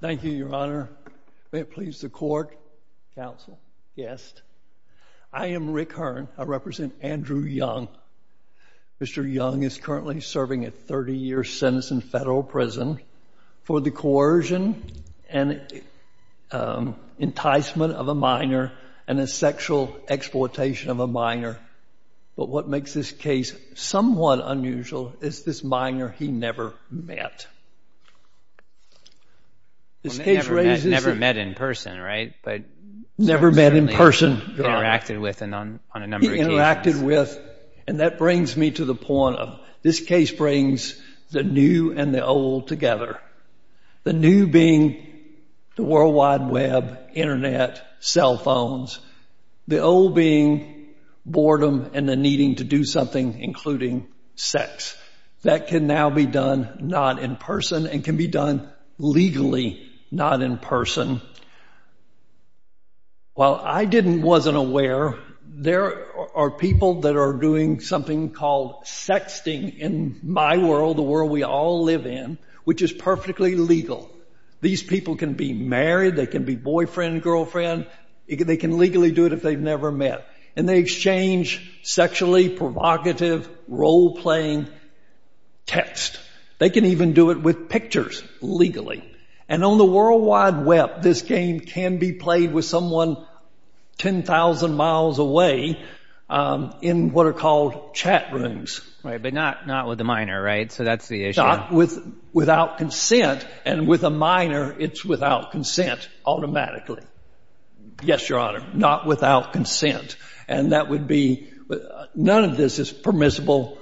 Thank you, Your Honor. May it please the court, counsel, guest. I am Rick Hearn. I represent Andrew Young. Mr. Young is currently serving a 30-year sentence in federal prison for the coercion and enticement of a minor and a sexual exploitation of a minor. But what makes this case somewhat unusual is this minor he never met. This case raises the... Well, they never met in person, right? But... Never met in person, Your Honor. Interacted with on a number of occasions. He interacted with, and that brings me to the point of this case brings the new and the old together. The new being the World Wide Web, Internet, cell phones. The old being boredom and the needing to do something, including sex. That can now be done not in person and can be done legally not in person. While I wasn't aware, there are people that are doing something called sexting in my world, the world we all live in, which is perfectly legal. These people can be married. They can be boyfriend, girlfriend. They can legally do it if they've never met. And they exchange sexually provocative role-playing text. They can even do it with pictures legally. And on the World Wide Web, this game can be played with someone 10,000 miles away in what are called chat rooms. Right, but not with a minor, right? So that's the issue. Without consent. And with a minor, it's without consent automatically. Yes, Your Honor. Not without consent. And that would be, none of this is permissible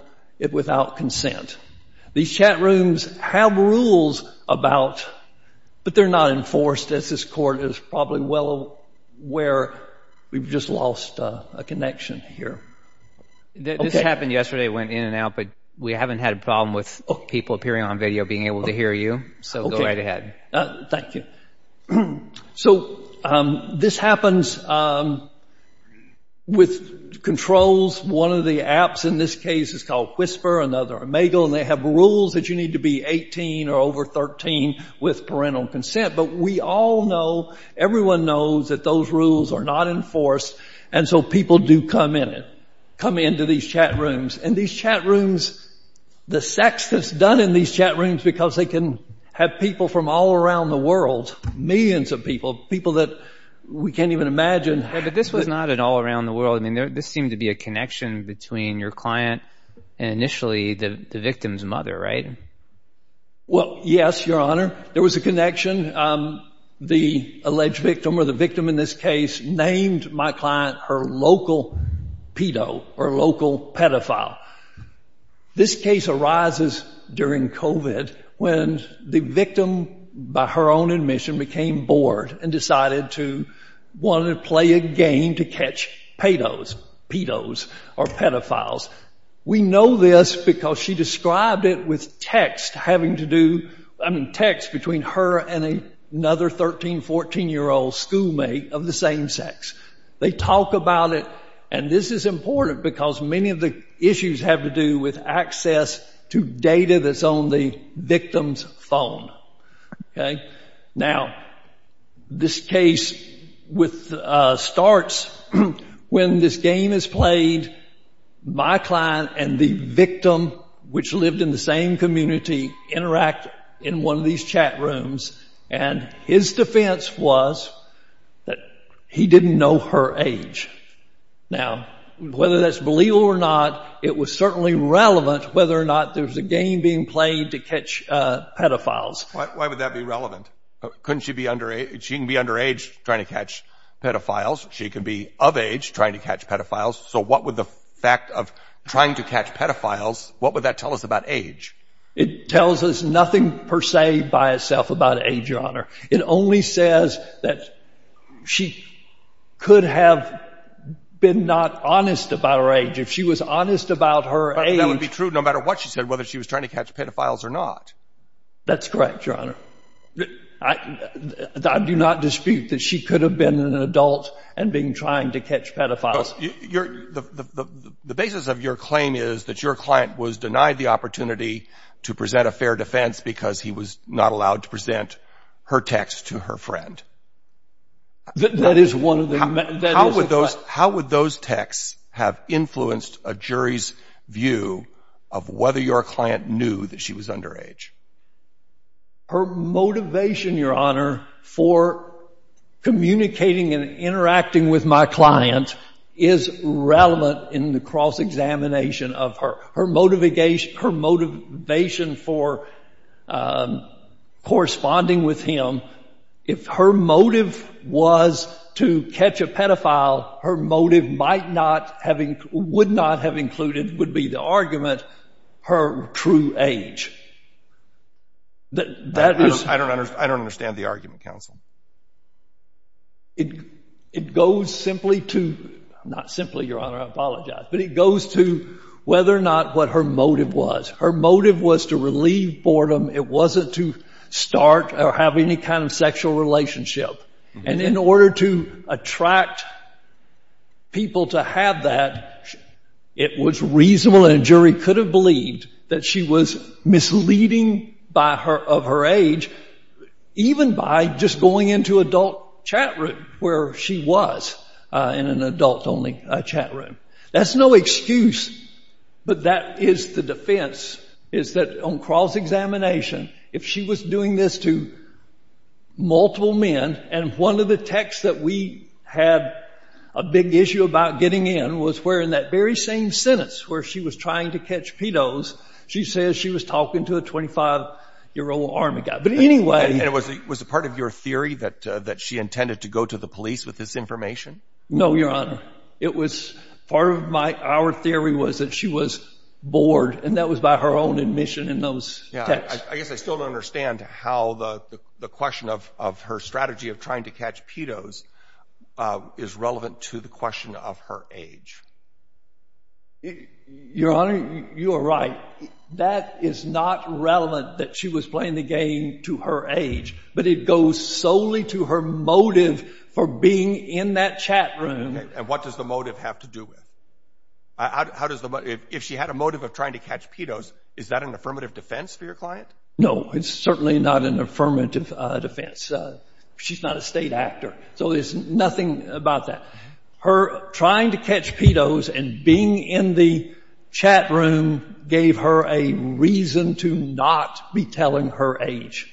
without consent. These chat rooms have rules about, but they're not enforced as this Court is probably well aware. We've just lost a connection here. This happened yesterday. It went in and out, but we haven't had a problem with people appearing on video being able to hear you. So go right ahead. Thank you. So this happens with controls. One of the apps in this case is called Whisper, another Imago, and they have rules that you need to be 18 or over 13 with parental consent. But we all know, everyone knows that those rules are not enforced. And so people do come in, come into these chat rooms. And these chat rooms, the sex that's done in these chat rooms, because they can have people from all around the world, millions of people, people that we can't even imagine. Yeah, but this was not an all around the world. I mean, this seemed to be a connection between your client and initially the victim's mother, right? Well, yes, Your Honor. There was a connection. The alleged victim or the victim in this case named my client, her local pedo or local pedophile. This case arises during COVID when the victim, by her own admission, became bored and decided to want to play a game to catch pedos or pedophiles. We know this because she described it with text having to do, I mean, text between her and another 13, 14-year-old schoolmate of the same sex. They talk about it, and this is important because many of the issues have to do with access to data that's on the victim's phone, okay? Now, this case starts when this game is played, my client and the victim, which lived in the same community, interact in one of these chat rooms, and his defense was that he didn't know her age. Now, whether that's believable or not, it was certainly relevant whether or not there was a game being played to catch pedophiles. Why would that be relevant? Couldn't she be under, she can be underage trying to catch pedophiles. She could be of age trying to catch pedophiles. So what would the fact of trying to catch pedophiles, what would that tell us about age? It tells us nothing per se by itself about age, Your Honor. It only says that she could have been not honest about her age. If she was honest about her age... That would be true no matter what she said, whether she was trying to catch pedophiles or not. That's correct, Your Honor. I do not dispute that she could have been an adult and been trying to catch pedophiles. The basis of your claim is that your client was denied the opportunity to present a fair defense because he was not allowed to present her text to her friend. That is one of the... How would those texts have influenced a jury's view of whether your client knew that she was underage? Her motivation, Your Honor, for communicating and interacting with my client is relevant in the cross-examination of her. Her motivation for corresponding with him, if her motive was to catch a pedophile, her motive would not have included, would be the argument, her true age. I don't understand the argument, counsel. It goes simply to, not simply, Your Honor, I apologize, but it goes to whether or not what her motive was. Her motive was to relieve boredom. It wasn't to start or have any kind of sexual relationship. In order to attract people to have that, it was reasonable and a jury could have that she was misleading of her age even by just going into adult chat room where she was in an adult-only chat room. That's no excuse, but that is the defense, is that on cross-examination, if she was doing this to multiple men and one of the texts that we had a big issue about getting in was where in that very same sentence where she was trying to catch pedos, she says she was talking to a 25-year-old army guy. But anyway... And was it part of your theory that she intended to go to the police with this information? No, Your Honor. It was part of our theory was that she was bored and that was by her own admission in those texts. I guess I still don't understand how the question of her strategy of trying to catch pedos is relevant to the question of her age. Your Honor, you are right. That is not relevant that she was playing the game to her age, but it goes solely to her motive for being in that chat room. And what does the motive have to do with it? If she had a motive of trying to catch pedos, is that an affirmative defense for your client? No, it's certainly not an affirmative defense. She's not a state actor, so there's nothing about that. Her trying to catch pedos and being in the chat room gave her a reason to not be telling her age.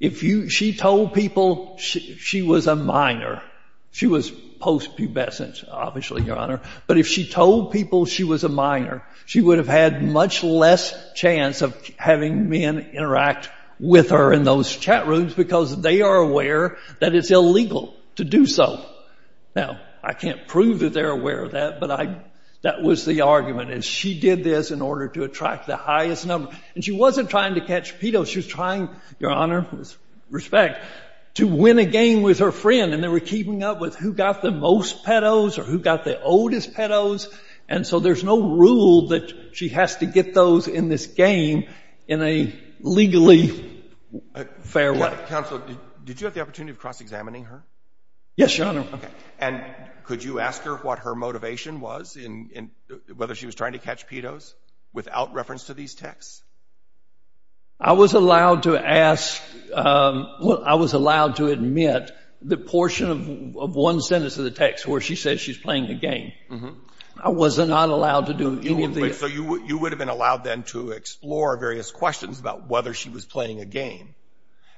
If you... She told people she was a minor. She was post-pubescent, obviously, Your Honor. But if she told people she was a minor, she would have had much less chance of having men interact with her in those chat rooms because they are aware that it's illegal to do so. Now, I can't prove that they're aware of that, but that was the argument is she did this in order to attract the highest number. And she wasn't trying to catch pedos. She was trying, Your Honor, with respect, to win a game with her friend and they were keeping up with who got the most pedos or who got the oldest pedos. And so there's no rule that she has to get those in this game in a legally fair way. Counsel, did you have the opportunity of cross-examining her? Yes, Your Honor. And could you ask her what her motivation was in whether she was trying to catch pedos without reference to these texts? I was allowed to ask... I was allowed to admit the portion of one sentence of the text where she says she's playing the game. I was not allowed to do any of the... So you would have been allowed then to explore various questions about whether she was playing a game.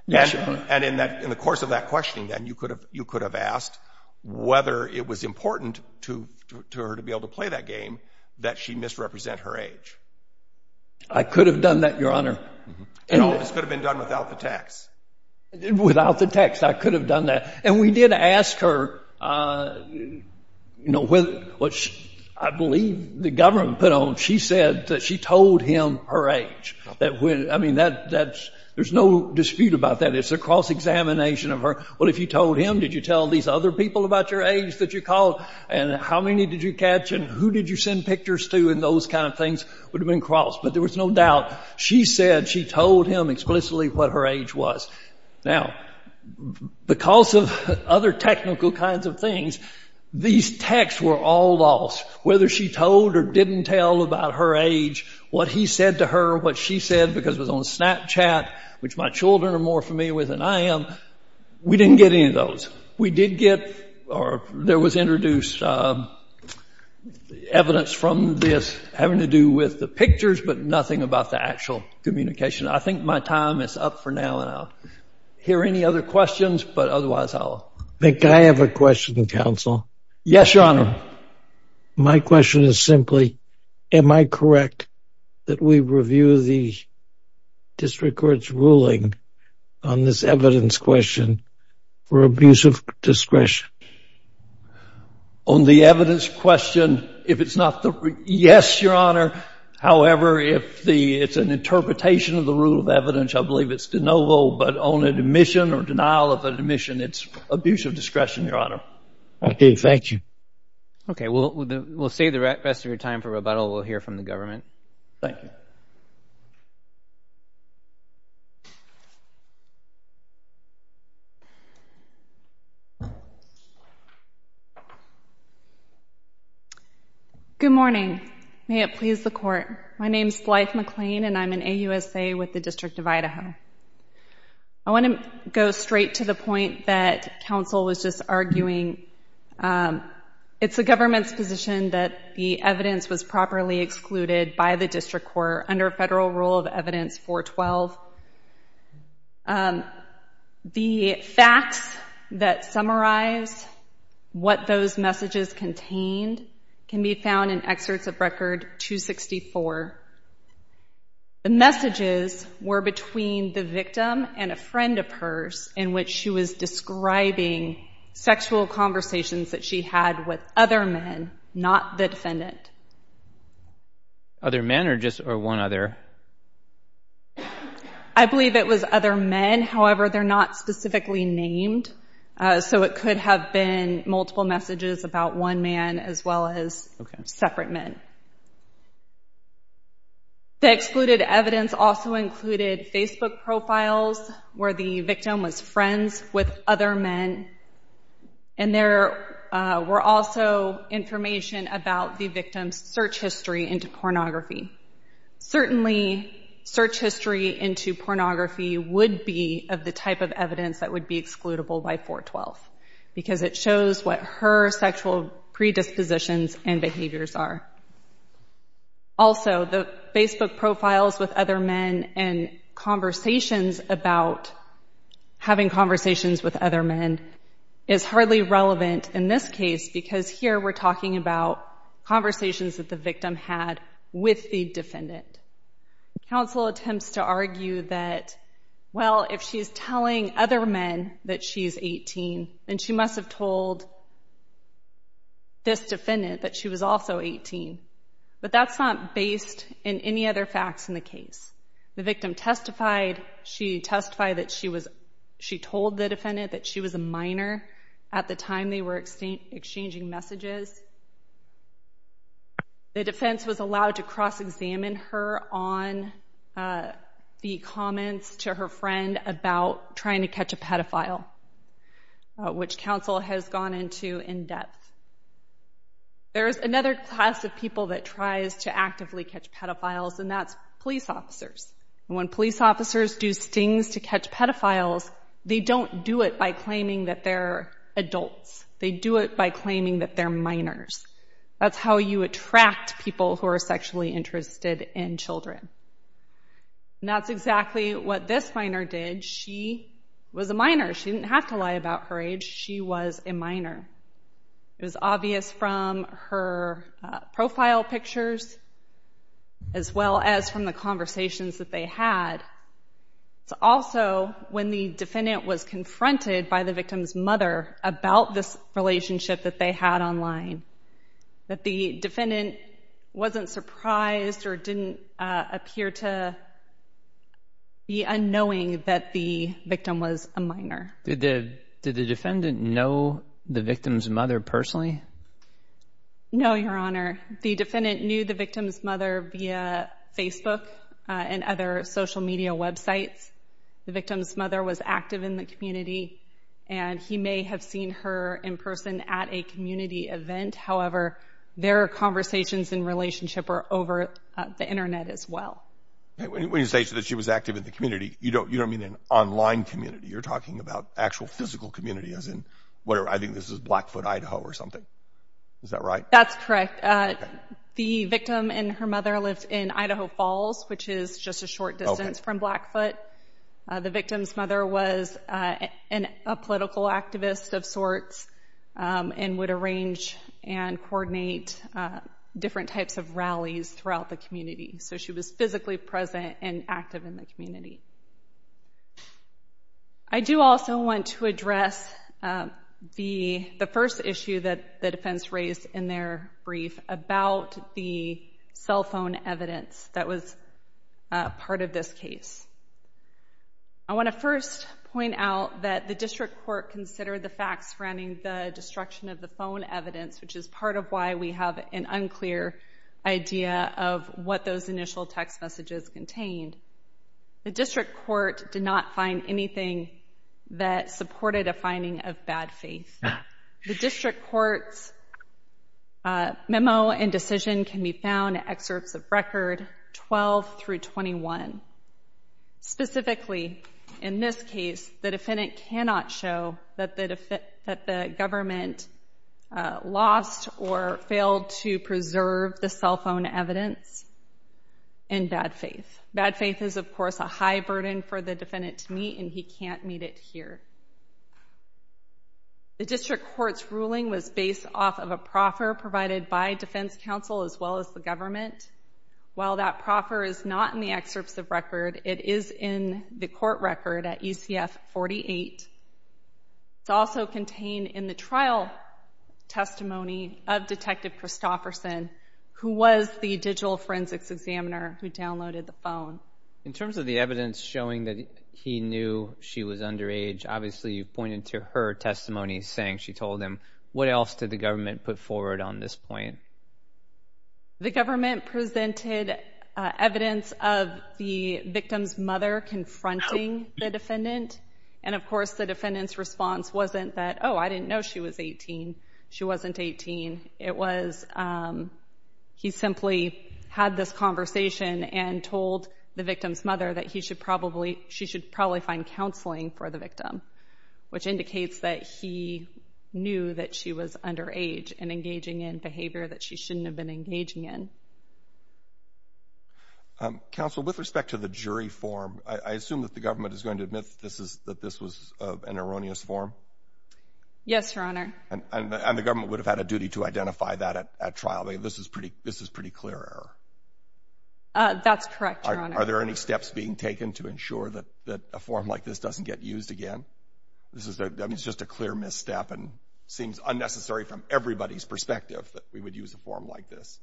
Yes, Your Honor. And in the course of that questioning then, you could have asked whether it was important to her to be able to play that game that she misrepresent her age. I could have done that, Your Honor. This could have been done without the text. Without the text, I could have done that. And we did ask her what I believe the government put on. She said that she told him her age. There's no dispute about that. It's a cross-examination of her. Well, if you told him, did you tell these other people about your age that you called? And how many did you catch? And who did you send pictures to? And those kind of things would have been crossed. But there was no she said she told him explicitly what her age was. Now, because of other technical kinds of things, these texts were all lost. Whether she told or didn't tell about her age, what he said to her, what she said, because it was on Snapchat, which my children are more familiar with than I am, we didn't get any of those. We did get... Or there was introduced evidence from this having to do with the pictures, but nothing about the actual communication. I think my time is up for now, and I'll hear any other questions. But otherwise, I'll... Can I have a question, counsel? Yes, Your Honor. My question is simply, am I correct that we review the district court's ruling on this evidence question for abuse of discretion? On the evidence question, if it's not the... Yes, Your Honor. However, if it's an interpretation of the rule of evidence, I believe it's de novo. But on admission or denial of admission, it's abuse of discretion, Your Honor. I do. Thank you. Okay. We'll save the rest of your time for rebuttal. We'll hear from the government. Thank you. Good morning. May it please the court. My name is Blythe McLean, and I'm an AUSA with the District of Idaho. I want to go straight to the point that counsel was just arguing. It's the government's position that the evidence was properly excluded by the district court under federal rule of evidence 412. The facts that summarize what those messages contained can be found in excerpts of record 264. The messages were between the victim and a friend of hers in which she was describing sexual conversations that she had with other men, not the defendant. Other men or just one other? I believe it was other men. However, they're not specifically named, so it could have been multiple messages about one man as well as separate men. The excluded evidence also included Facebook profiles where the victim was friends with other men, and there were also information about the victim's search history into pornography. Certainly, search history into pornography would be of the type of evidence that would be excludable by 412 because it shows what her sexual predispositions and behaviors are. Also, the Facebook profiles with other men and conversations about having conversations with other men is hardly relevant in this case because here we're talking about conversations that the victim had with the defendant. Counsel attempts to argue that, well, if she's telling other men that she's 18, then she must have told this defendant that she was also 18, but that's not based in any other facts in the case. The victim testified. She testified that she told the defendant that she was a minor at the time they were exchanging messages. The defense was allowed to cross-examine her on the comments to her friend about trying to catch a pedophile, which counsel has gone into in depth. There's another class of people that tries to actively catch pedophiles, and that's police officers. When police officers do stings to catch pedophiles, they don't do it by claiming that they're adults. They do it by claiming that they're minors. That's how you attract people who are sexually interested in children. That's exactly what this minor did. She was a minor. She didn't have to lie about her age. She was a minor. It was obvious from her profile pictures as well as from the conversations that they had. Also, when the defendant was confronted by the victim's mother about this relationship that they had online, that the defendant wasn't surprised or didn't appear to be unknowing that the victim was a minor. Did the defendant know the victim's mother personally? No, Your Honor. The defendant knew the victim's mother via Facebook and other social media websites. The victim's mother was active in the community, and he may have seen her in person at a community event. However, their conversations and relationship are over the internet as well. When you say that she was active in the community, you don't mean an online community. You're talking about actual physical community, as in, I think this is Blackfoot, Idaho or something. Is that right? That's correct. The victim and her mother lived in Idaho Falls, which is just a short distance from Blackfoot. The victim's mother was a political activist of sorts and would arrange and coordinate different types of rallies throughout the community. So, she was physically present and active in the community. I do also want to address the first issue that the defense raised in their brief about the cell phone evidence that was part of this case. I want to first point out that the district court considered the facts surrounding the destruction of the phone evidence, which is part of why we have an unclear idea of what those initial text messages contained. The district court did not find anything that supported a finding of bad faith. The district court's memo and decision can be found in excerpts of record 12 through 21. Specifically, in this case, the defendant cannot show that the government lost or failed to preserve the cell phone evidence in bad faith. Bad faith is, of course, a high burden for the court. The district court's ruling was based off of a proffer provided by defense counsel as well as the government. While that proffer is not in the excerpts of record, it is in the court record at ECF 48. It's also contained in the trial testimony of Detective Christofferson, who was the digital forensics examiner who downloaded the phone. In terms of the evidence showing that he knew she was underage, obviously you pointed to her testimony saying she told him. What else did the government put forward on this point? The government presented evidence of the victim's mother confronting the defendant, and of course the defendant's response wasn't that, oh, I didn't know she was 18. She wasn't 18. It was, um, he simply had this conversation and told the victim's mother that he should probably, she should probably find counseling for the victim, which indicates that he knew that she was underage and engaging in behavior that she shouldn't have been engaging in. Counsel, with respect to the jury form, I assume that the government is going to admit this is, that this was an erroneous form? Yes, Your Honor. And the government would have had a duty to identify that at trial. This is pretty, this is pretty clear error. That's correct, Your Honor. Are there any steps being taken to ensure that a form like this doesn't get used again? This is, I mean, it's just a clear misstep and seems unnecessary from everybody's perspective that we would use a form like this.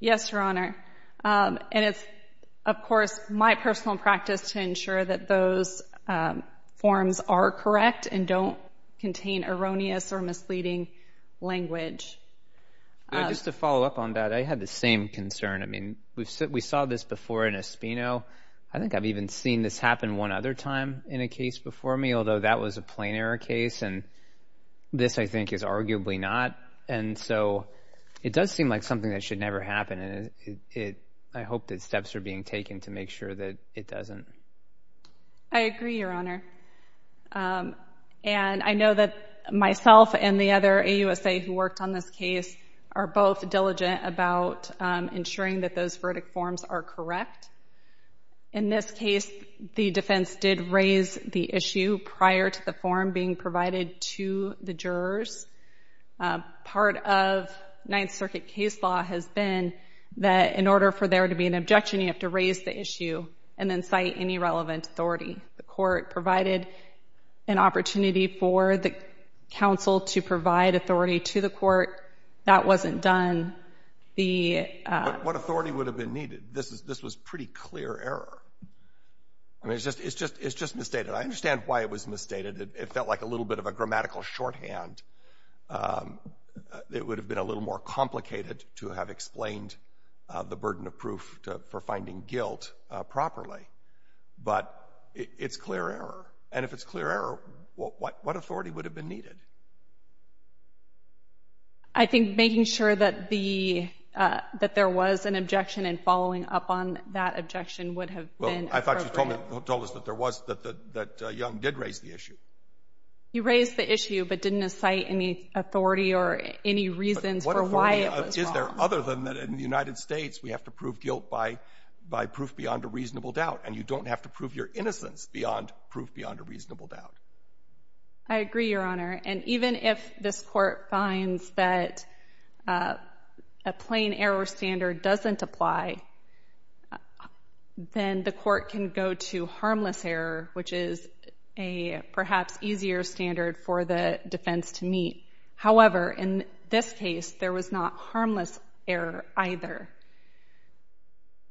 Yes, Your Honor. And it's, of course, my personal practice to ensure that those forms are correct and don't contain erroneous or misleading language. Just to follow up on that, I had the same concern. I mean, we saw this before in Espino. I think I've even seen this happen one other time in a case before me, although that was a plain error case. And this, I think, is arguably not. And so, it does seem like something that should never happen. And it, I hope that steps are being taken to make sure that it doesn't. I agree, Your Honor. And I know that myself and the other AUSA who worked on this are both diligent about ensuring that those verdict forms are correct. In this case, the defense did raise the issue prior to the form being provided to the jurors. Part of Ninth Circuit case law has been that in order for there to be an objection, you have to raise the issue and then cite any relevant authority. The court provided an opportunity for the counsel to that wasn't done. What authority would have been needed? This was pretty clear error. I mean, it's just misstated. I understand why it was misstated. It felt like a little bit of a grammatical shorthand. It would have been a little more complicated to have explained the burden of proof for finding guilt properly. But it's clear error. And if it's clear error, what authority would have been needed? I think making sure that there was an objection and following up on that objection would have been appropriate. I thought you told us that Young did raise the issue. He raised the issue but didn't cite any authority or any reasons for why it was wrong. Is there other than that in the United States, we have to prove guilt by proof beyond a reasonable doubt. And you don't have to prove your innocence beyond proof beyond a reasonable doubt. I agree, Your Honor. And even if this court finds that a plain error standard doesn't apply, then the court can go to harmless error, which is a perhaps easier standard for the defense to meet. However, in this case, there was not harmless error either.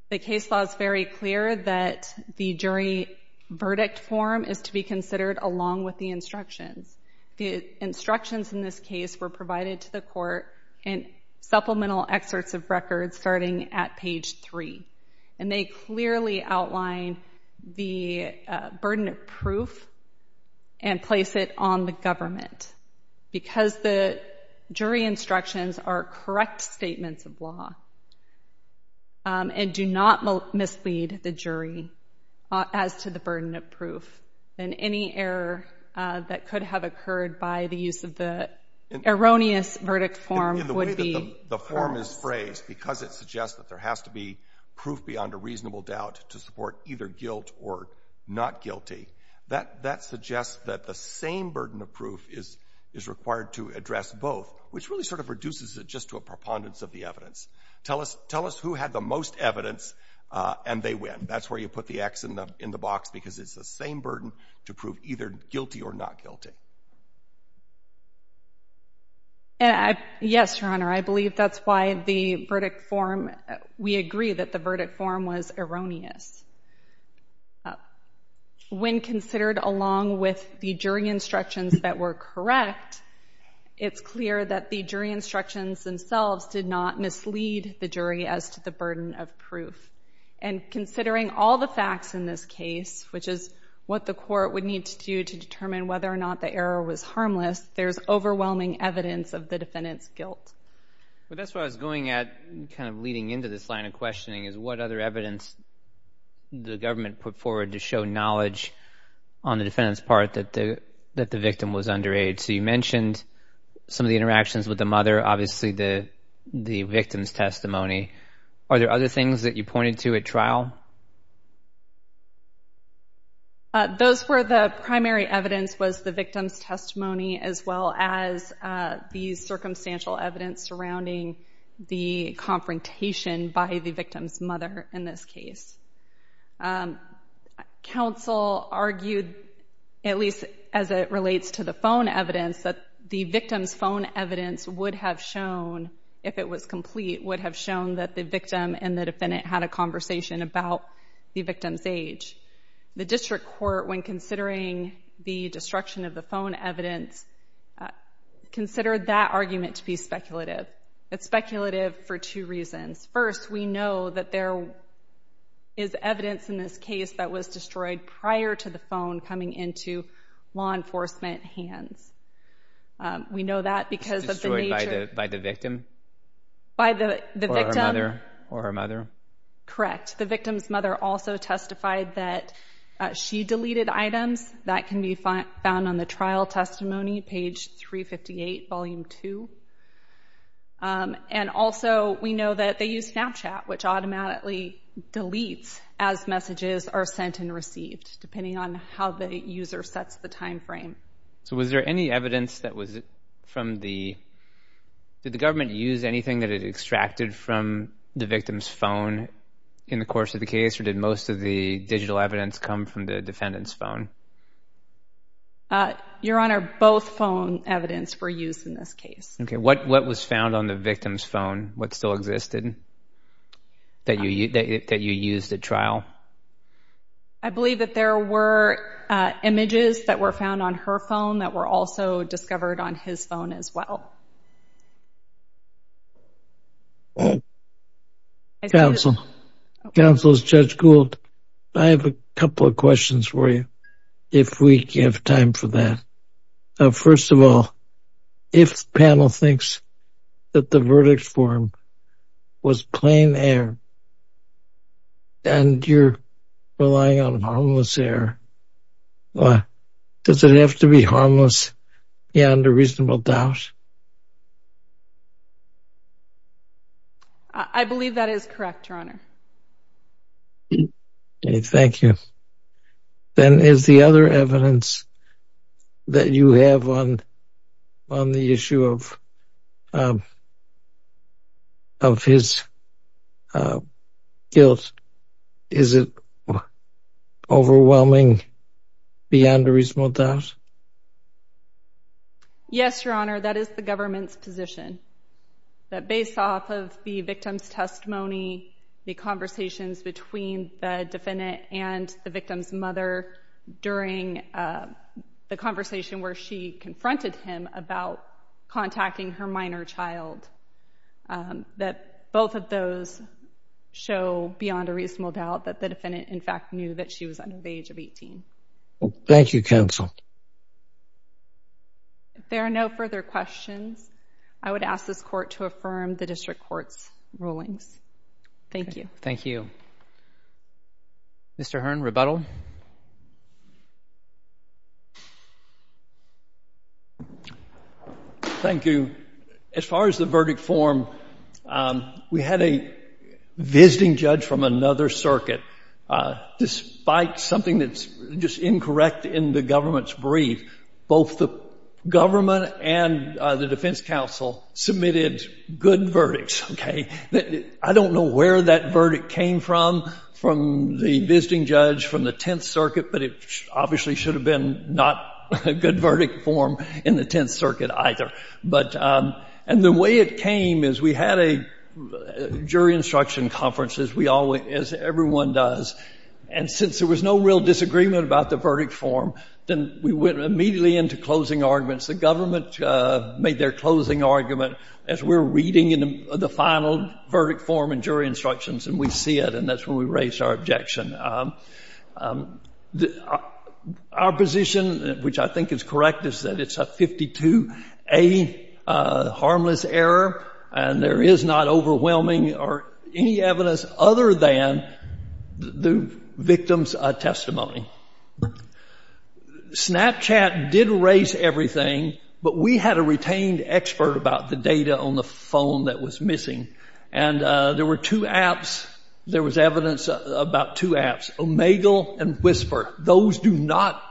The case law is very clear that the jury verdict form is to be considered along with the instructions. The instructions in this case were provided to the court in supplemental excerpts of records starting at page 3. And they clearly outline the burden of proof and place it on the government. Because the jury as to the burden of proof and any error that could have occurred by the use of the erroneous verdict form would be the form is phrased because it suggests that there has to be proof beyond a reasonable doubt to support either guilt or not guilty. That suggests that the same burden of proof is required to address both, which really sort of reduces it just to a preponderance of the time. That's where you put the X in the box because it's the same burden to prove either guilty or not guilty. Yes, Your Honor. I believe that's why the verdict form, we agree that the verdict form was erroneous. When considered along with the jury instructions that were correct, it's clear that the jury instructions themselves did not mislead the jury as to the burden of considering all the facts in this case, which is what the court would need to do to determine whether or not the error was harmless. There's overwhelming evidence of the defendant's guilt. But that's what I was going at kind of leading into this line of questioning is what other evidence the government put forward to show knowledge on the defendant's part that the victim was underage. So you mentioned some of the interactions with the mother, obviously the things that you pointed to at trial. Those were the primary evidence was the victim's testimony as well as the circumstantial evidence surrounding the confrontation by the victim's mother in this case. Counsel argued, at least as it relates to the phone evidence, that the victim's phone evidence would have shown, if it was complete, would have shown that the victim and the defendant had a conversation about the victim's age. The district court, when considering the destruction of the phone evidence, considered that argument to be speculative. It's speculative for two reasons. First, we know that there is evidence in this case that was destroyed prior to the phone coming into law enforcement hands. We know that because of the nature... It was destroyed by the victim? By the victim. Or her mother. Or her mother. Correct. The victim's mother also testified that she deleted items that can be found on the trial testimony, page 358, volume 2. And also, we know that they use Snapchat, which automatically deletes as messages are sent and received, depending on how the user sets the time frame. So was there any evidence that was from the... Did the government use anything that it extracted from the victim's phone in the course of the case? Or did most of the digital evidence come from the defendant's phone? Your Honor, both phone evidence were used in this case. Okay. What was found on the victim's phone? What still existed that you used at trial? I believe that there were images that were found on her phone that were also discovered on his phone as well. Counsel, Judge Gould, I have a couple of questions for you, if we have time for that. First of all, if panel thinks that the verdict form was plain air, and you're relying on harmless air, does it have to be harmless beyond a reasonable doubt? I believe that is correct, Your Honor. Okay. Thank you. Then is the other evidence that you have on the issue of his guilt, is it overwhelming beyond a reasonable doubt? Yes, Your Honor, that is the government's position, that based off of the victim's testimony, the conversations between the defendant and the victim's mother during the conversation where she confronted him about contacting her minor child, that both of those show beyond a reasonable doubt that the defendant, in fact, knew that she was under the age of 18. Thank you, Counsel. If there are no further questions, I would ask this Court to affirm the District Court's rulings. Thank you. Thank you. Mr. Hearn, rebuttal. Thank you. As far as the verdict form, we had a visiting judge from another circuit. Despite something that's just incorrect in the government's position, both the government and the defense counsel submitted good verdicts. I don't know where that verdict came from, from the visiting judge from the Tenth Circuit, but it obviously should have been not a good verdict form in the Tenth Circuit either. The way it came is we had a jury instruction conference, as everyone does, and since there was no real disagreement about the verdict form, then we went immediately into closing arguments. The government made their closing argument as we're reading the final verdict form and jury instructions, and we see it, and that's when we raised our objection. Our position, which I think is correct, is that it's a 52A harmless error, and there is not testimony. Snapchat did erase everything, but we had a retained expert about the data on the phone that was missing, and there were two apps. There was evidence about two apps, Omegle and Whisper. Those do not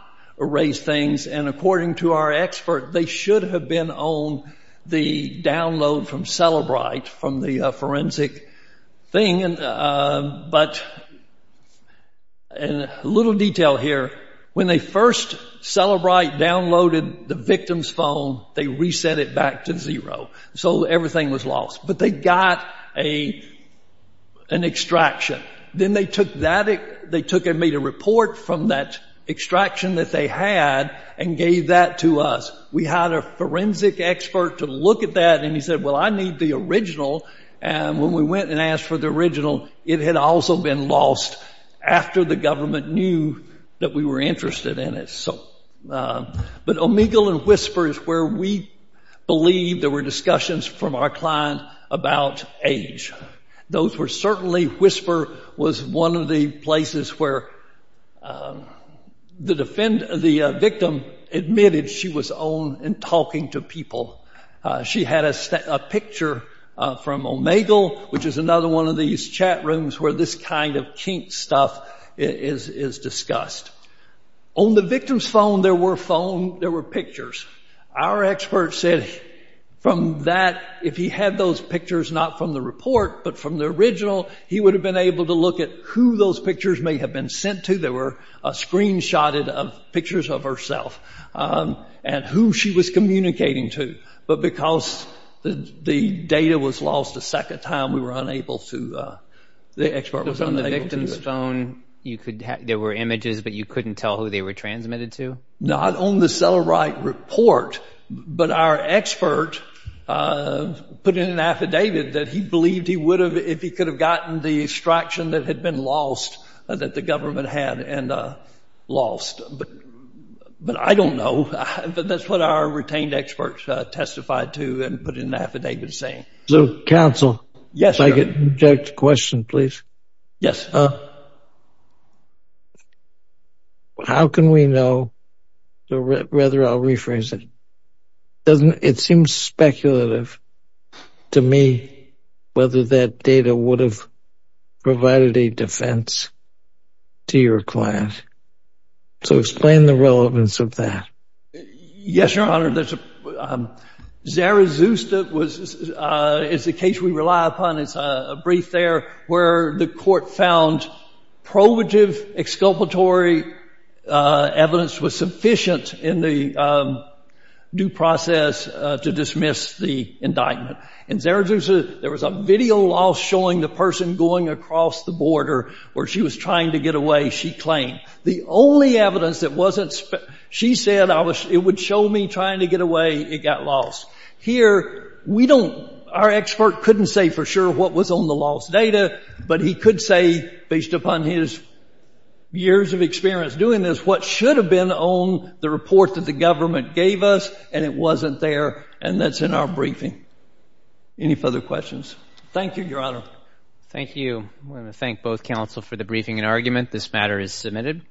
erase things, and according to our expert, they should have been on the download from Cellebrite, from the forensic thing, but a little detail here. When they first Cellebrite downloaded the victim's phone, they reset it back to zero, so everything was lost, but they got an extraction. Then they made a report from that extraction that they had and gave that to us. We had a forensic expert to look at that, and he said, well, I need the original, and when we went and asked for the original, it had also been lost after the government knew that we were interested in it. But Omegle and Whisper is where we believe there were discussions from our client about age. Those were certainly, Whisper was one of the places where the victim admitted she was on and talking to people. She had a picture from Omegle, which is another one of these chat rooms where this kind of kink stuff is discussed. On the victim's phone, there were pictures. Our expert said from that, if he had those pictures not from the report, but from the original, he would have been able to look at who those pictures may have been sent to. They were screenshotted of pictures of herself and who she was communicating to. But because the data was lost the second time, we were unable to, the expert was unable to- On the victim's phone, there were images, but you couldn't tell who they were transmitted to? Not on the Cellebrite report, but our expert put in an affidavit that he believed he would have, if he could have gotten the extraction that had been lost, that the government had and lost. But I don't know, but that's what our retained expert testified to and put in an affidavit saying. So counsel, if I could interject a question, please. Yes. How can we know, so rather I'll rephrase it. It seems speculative to me whether that would have provided a defense to your client. So explain the relevance of that. Yes, your honor. Zarazuza is the case we rely upon. It's a brief there where the court found probative exculpatory evidence was sufficient in the due process to dismiss the indictment. And Zarazuza, there was a video loss showing the person going across the border where she was trying to get away, she claimed. The only evidence that wasn't, she said it would show me trying to get away, it got lost. Here, we don't, our expert couldn't say for sure what was on the lost data, but he could say, based upon his years of experience doing this, what should have been on the report that the government gave us, and it wasn't there, and that's in our briefing. Any further questions? Thank you, your honor. Thank you. I want to thank both counsel for the briefing and argument. This matter is submitted.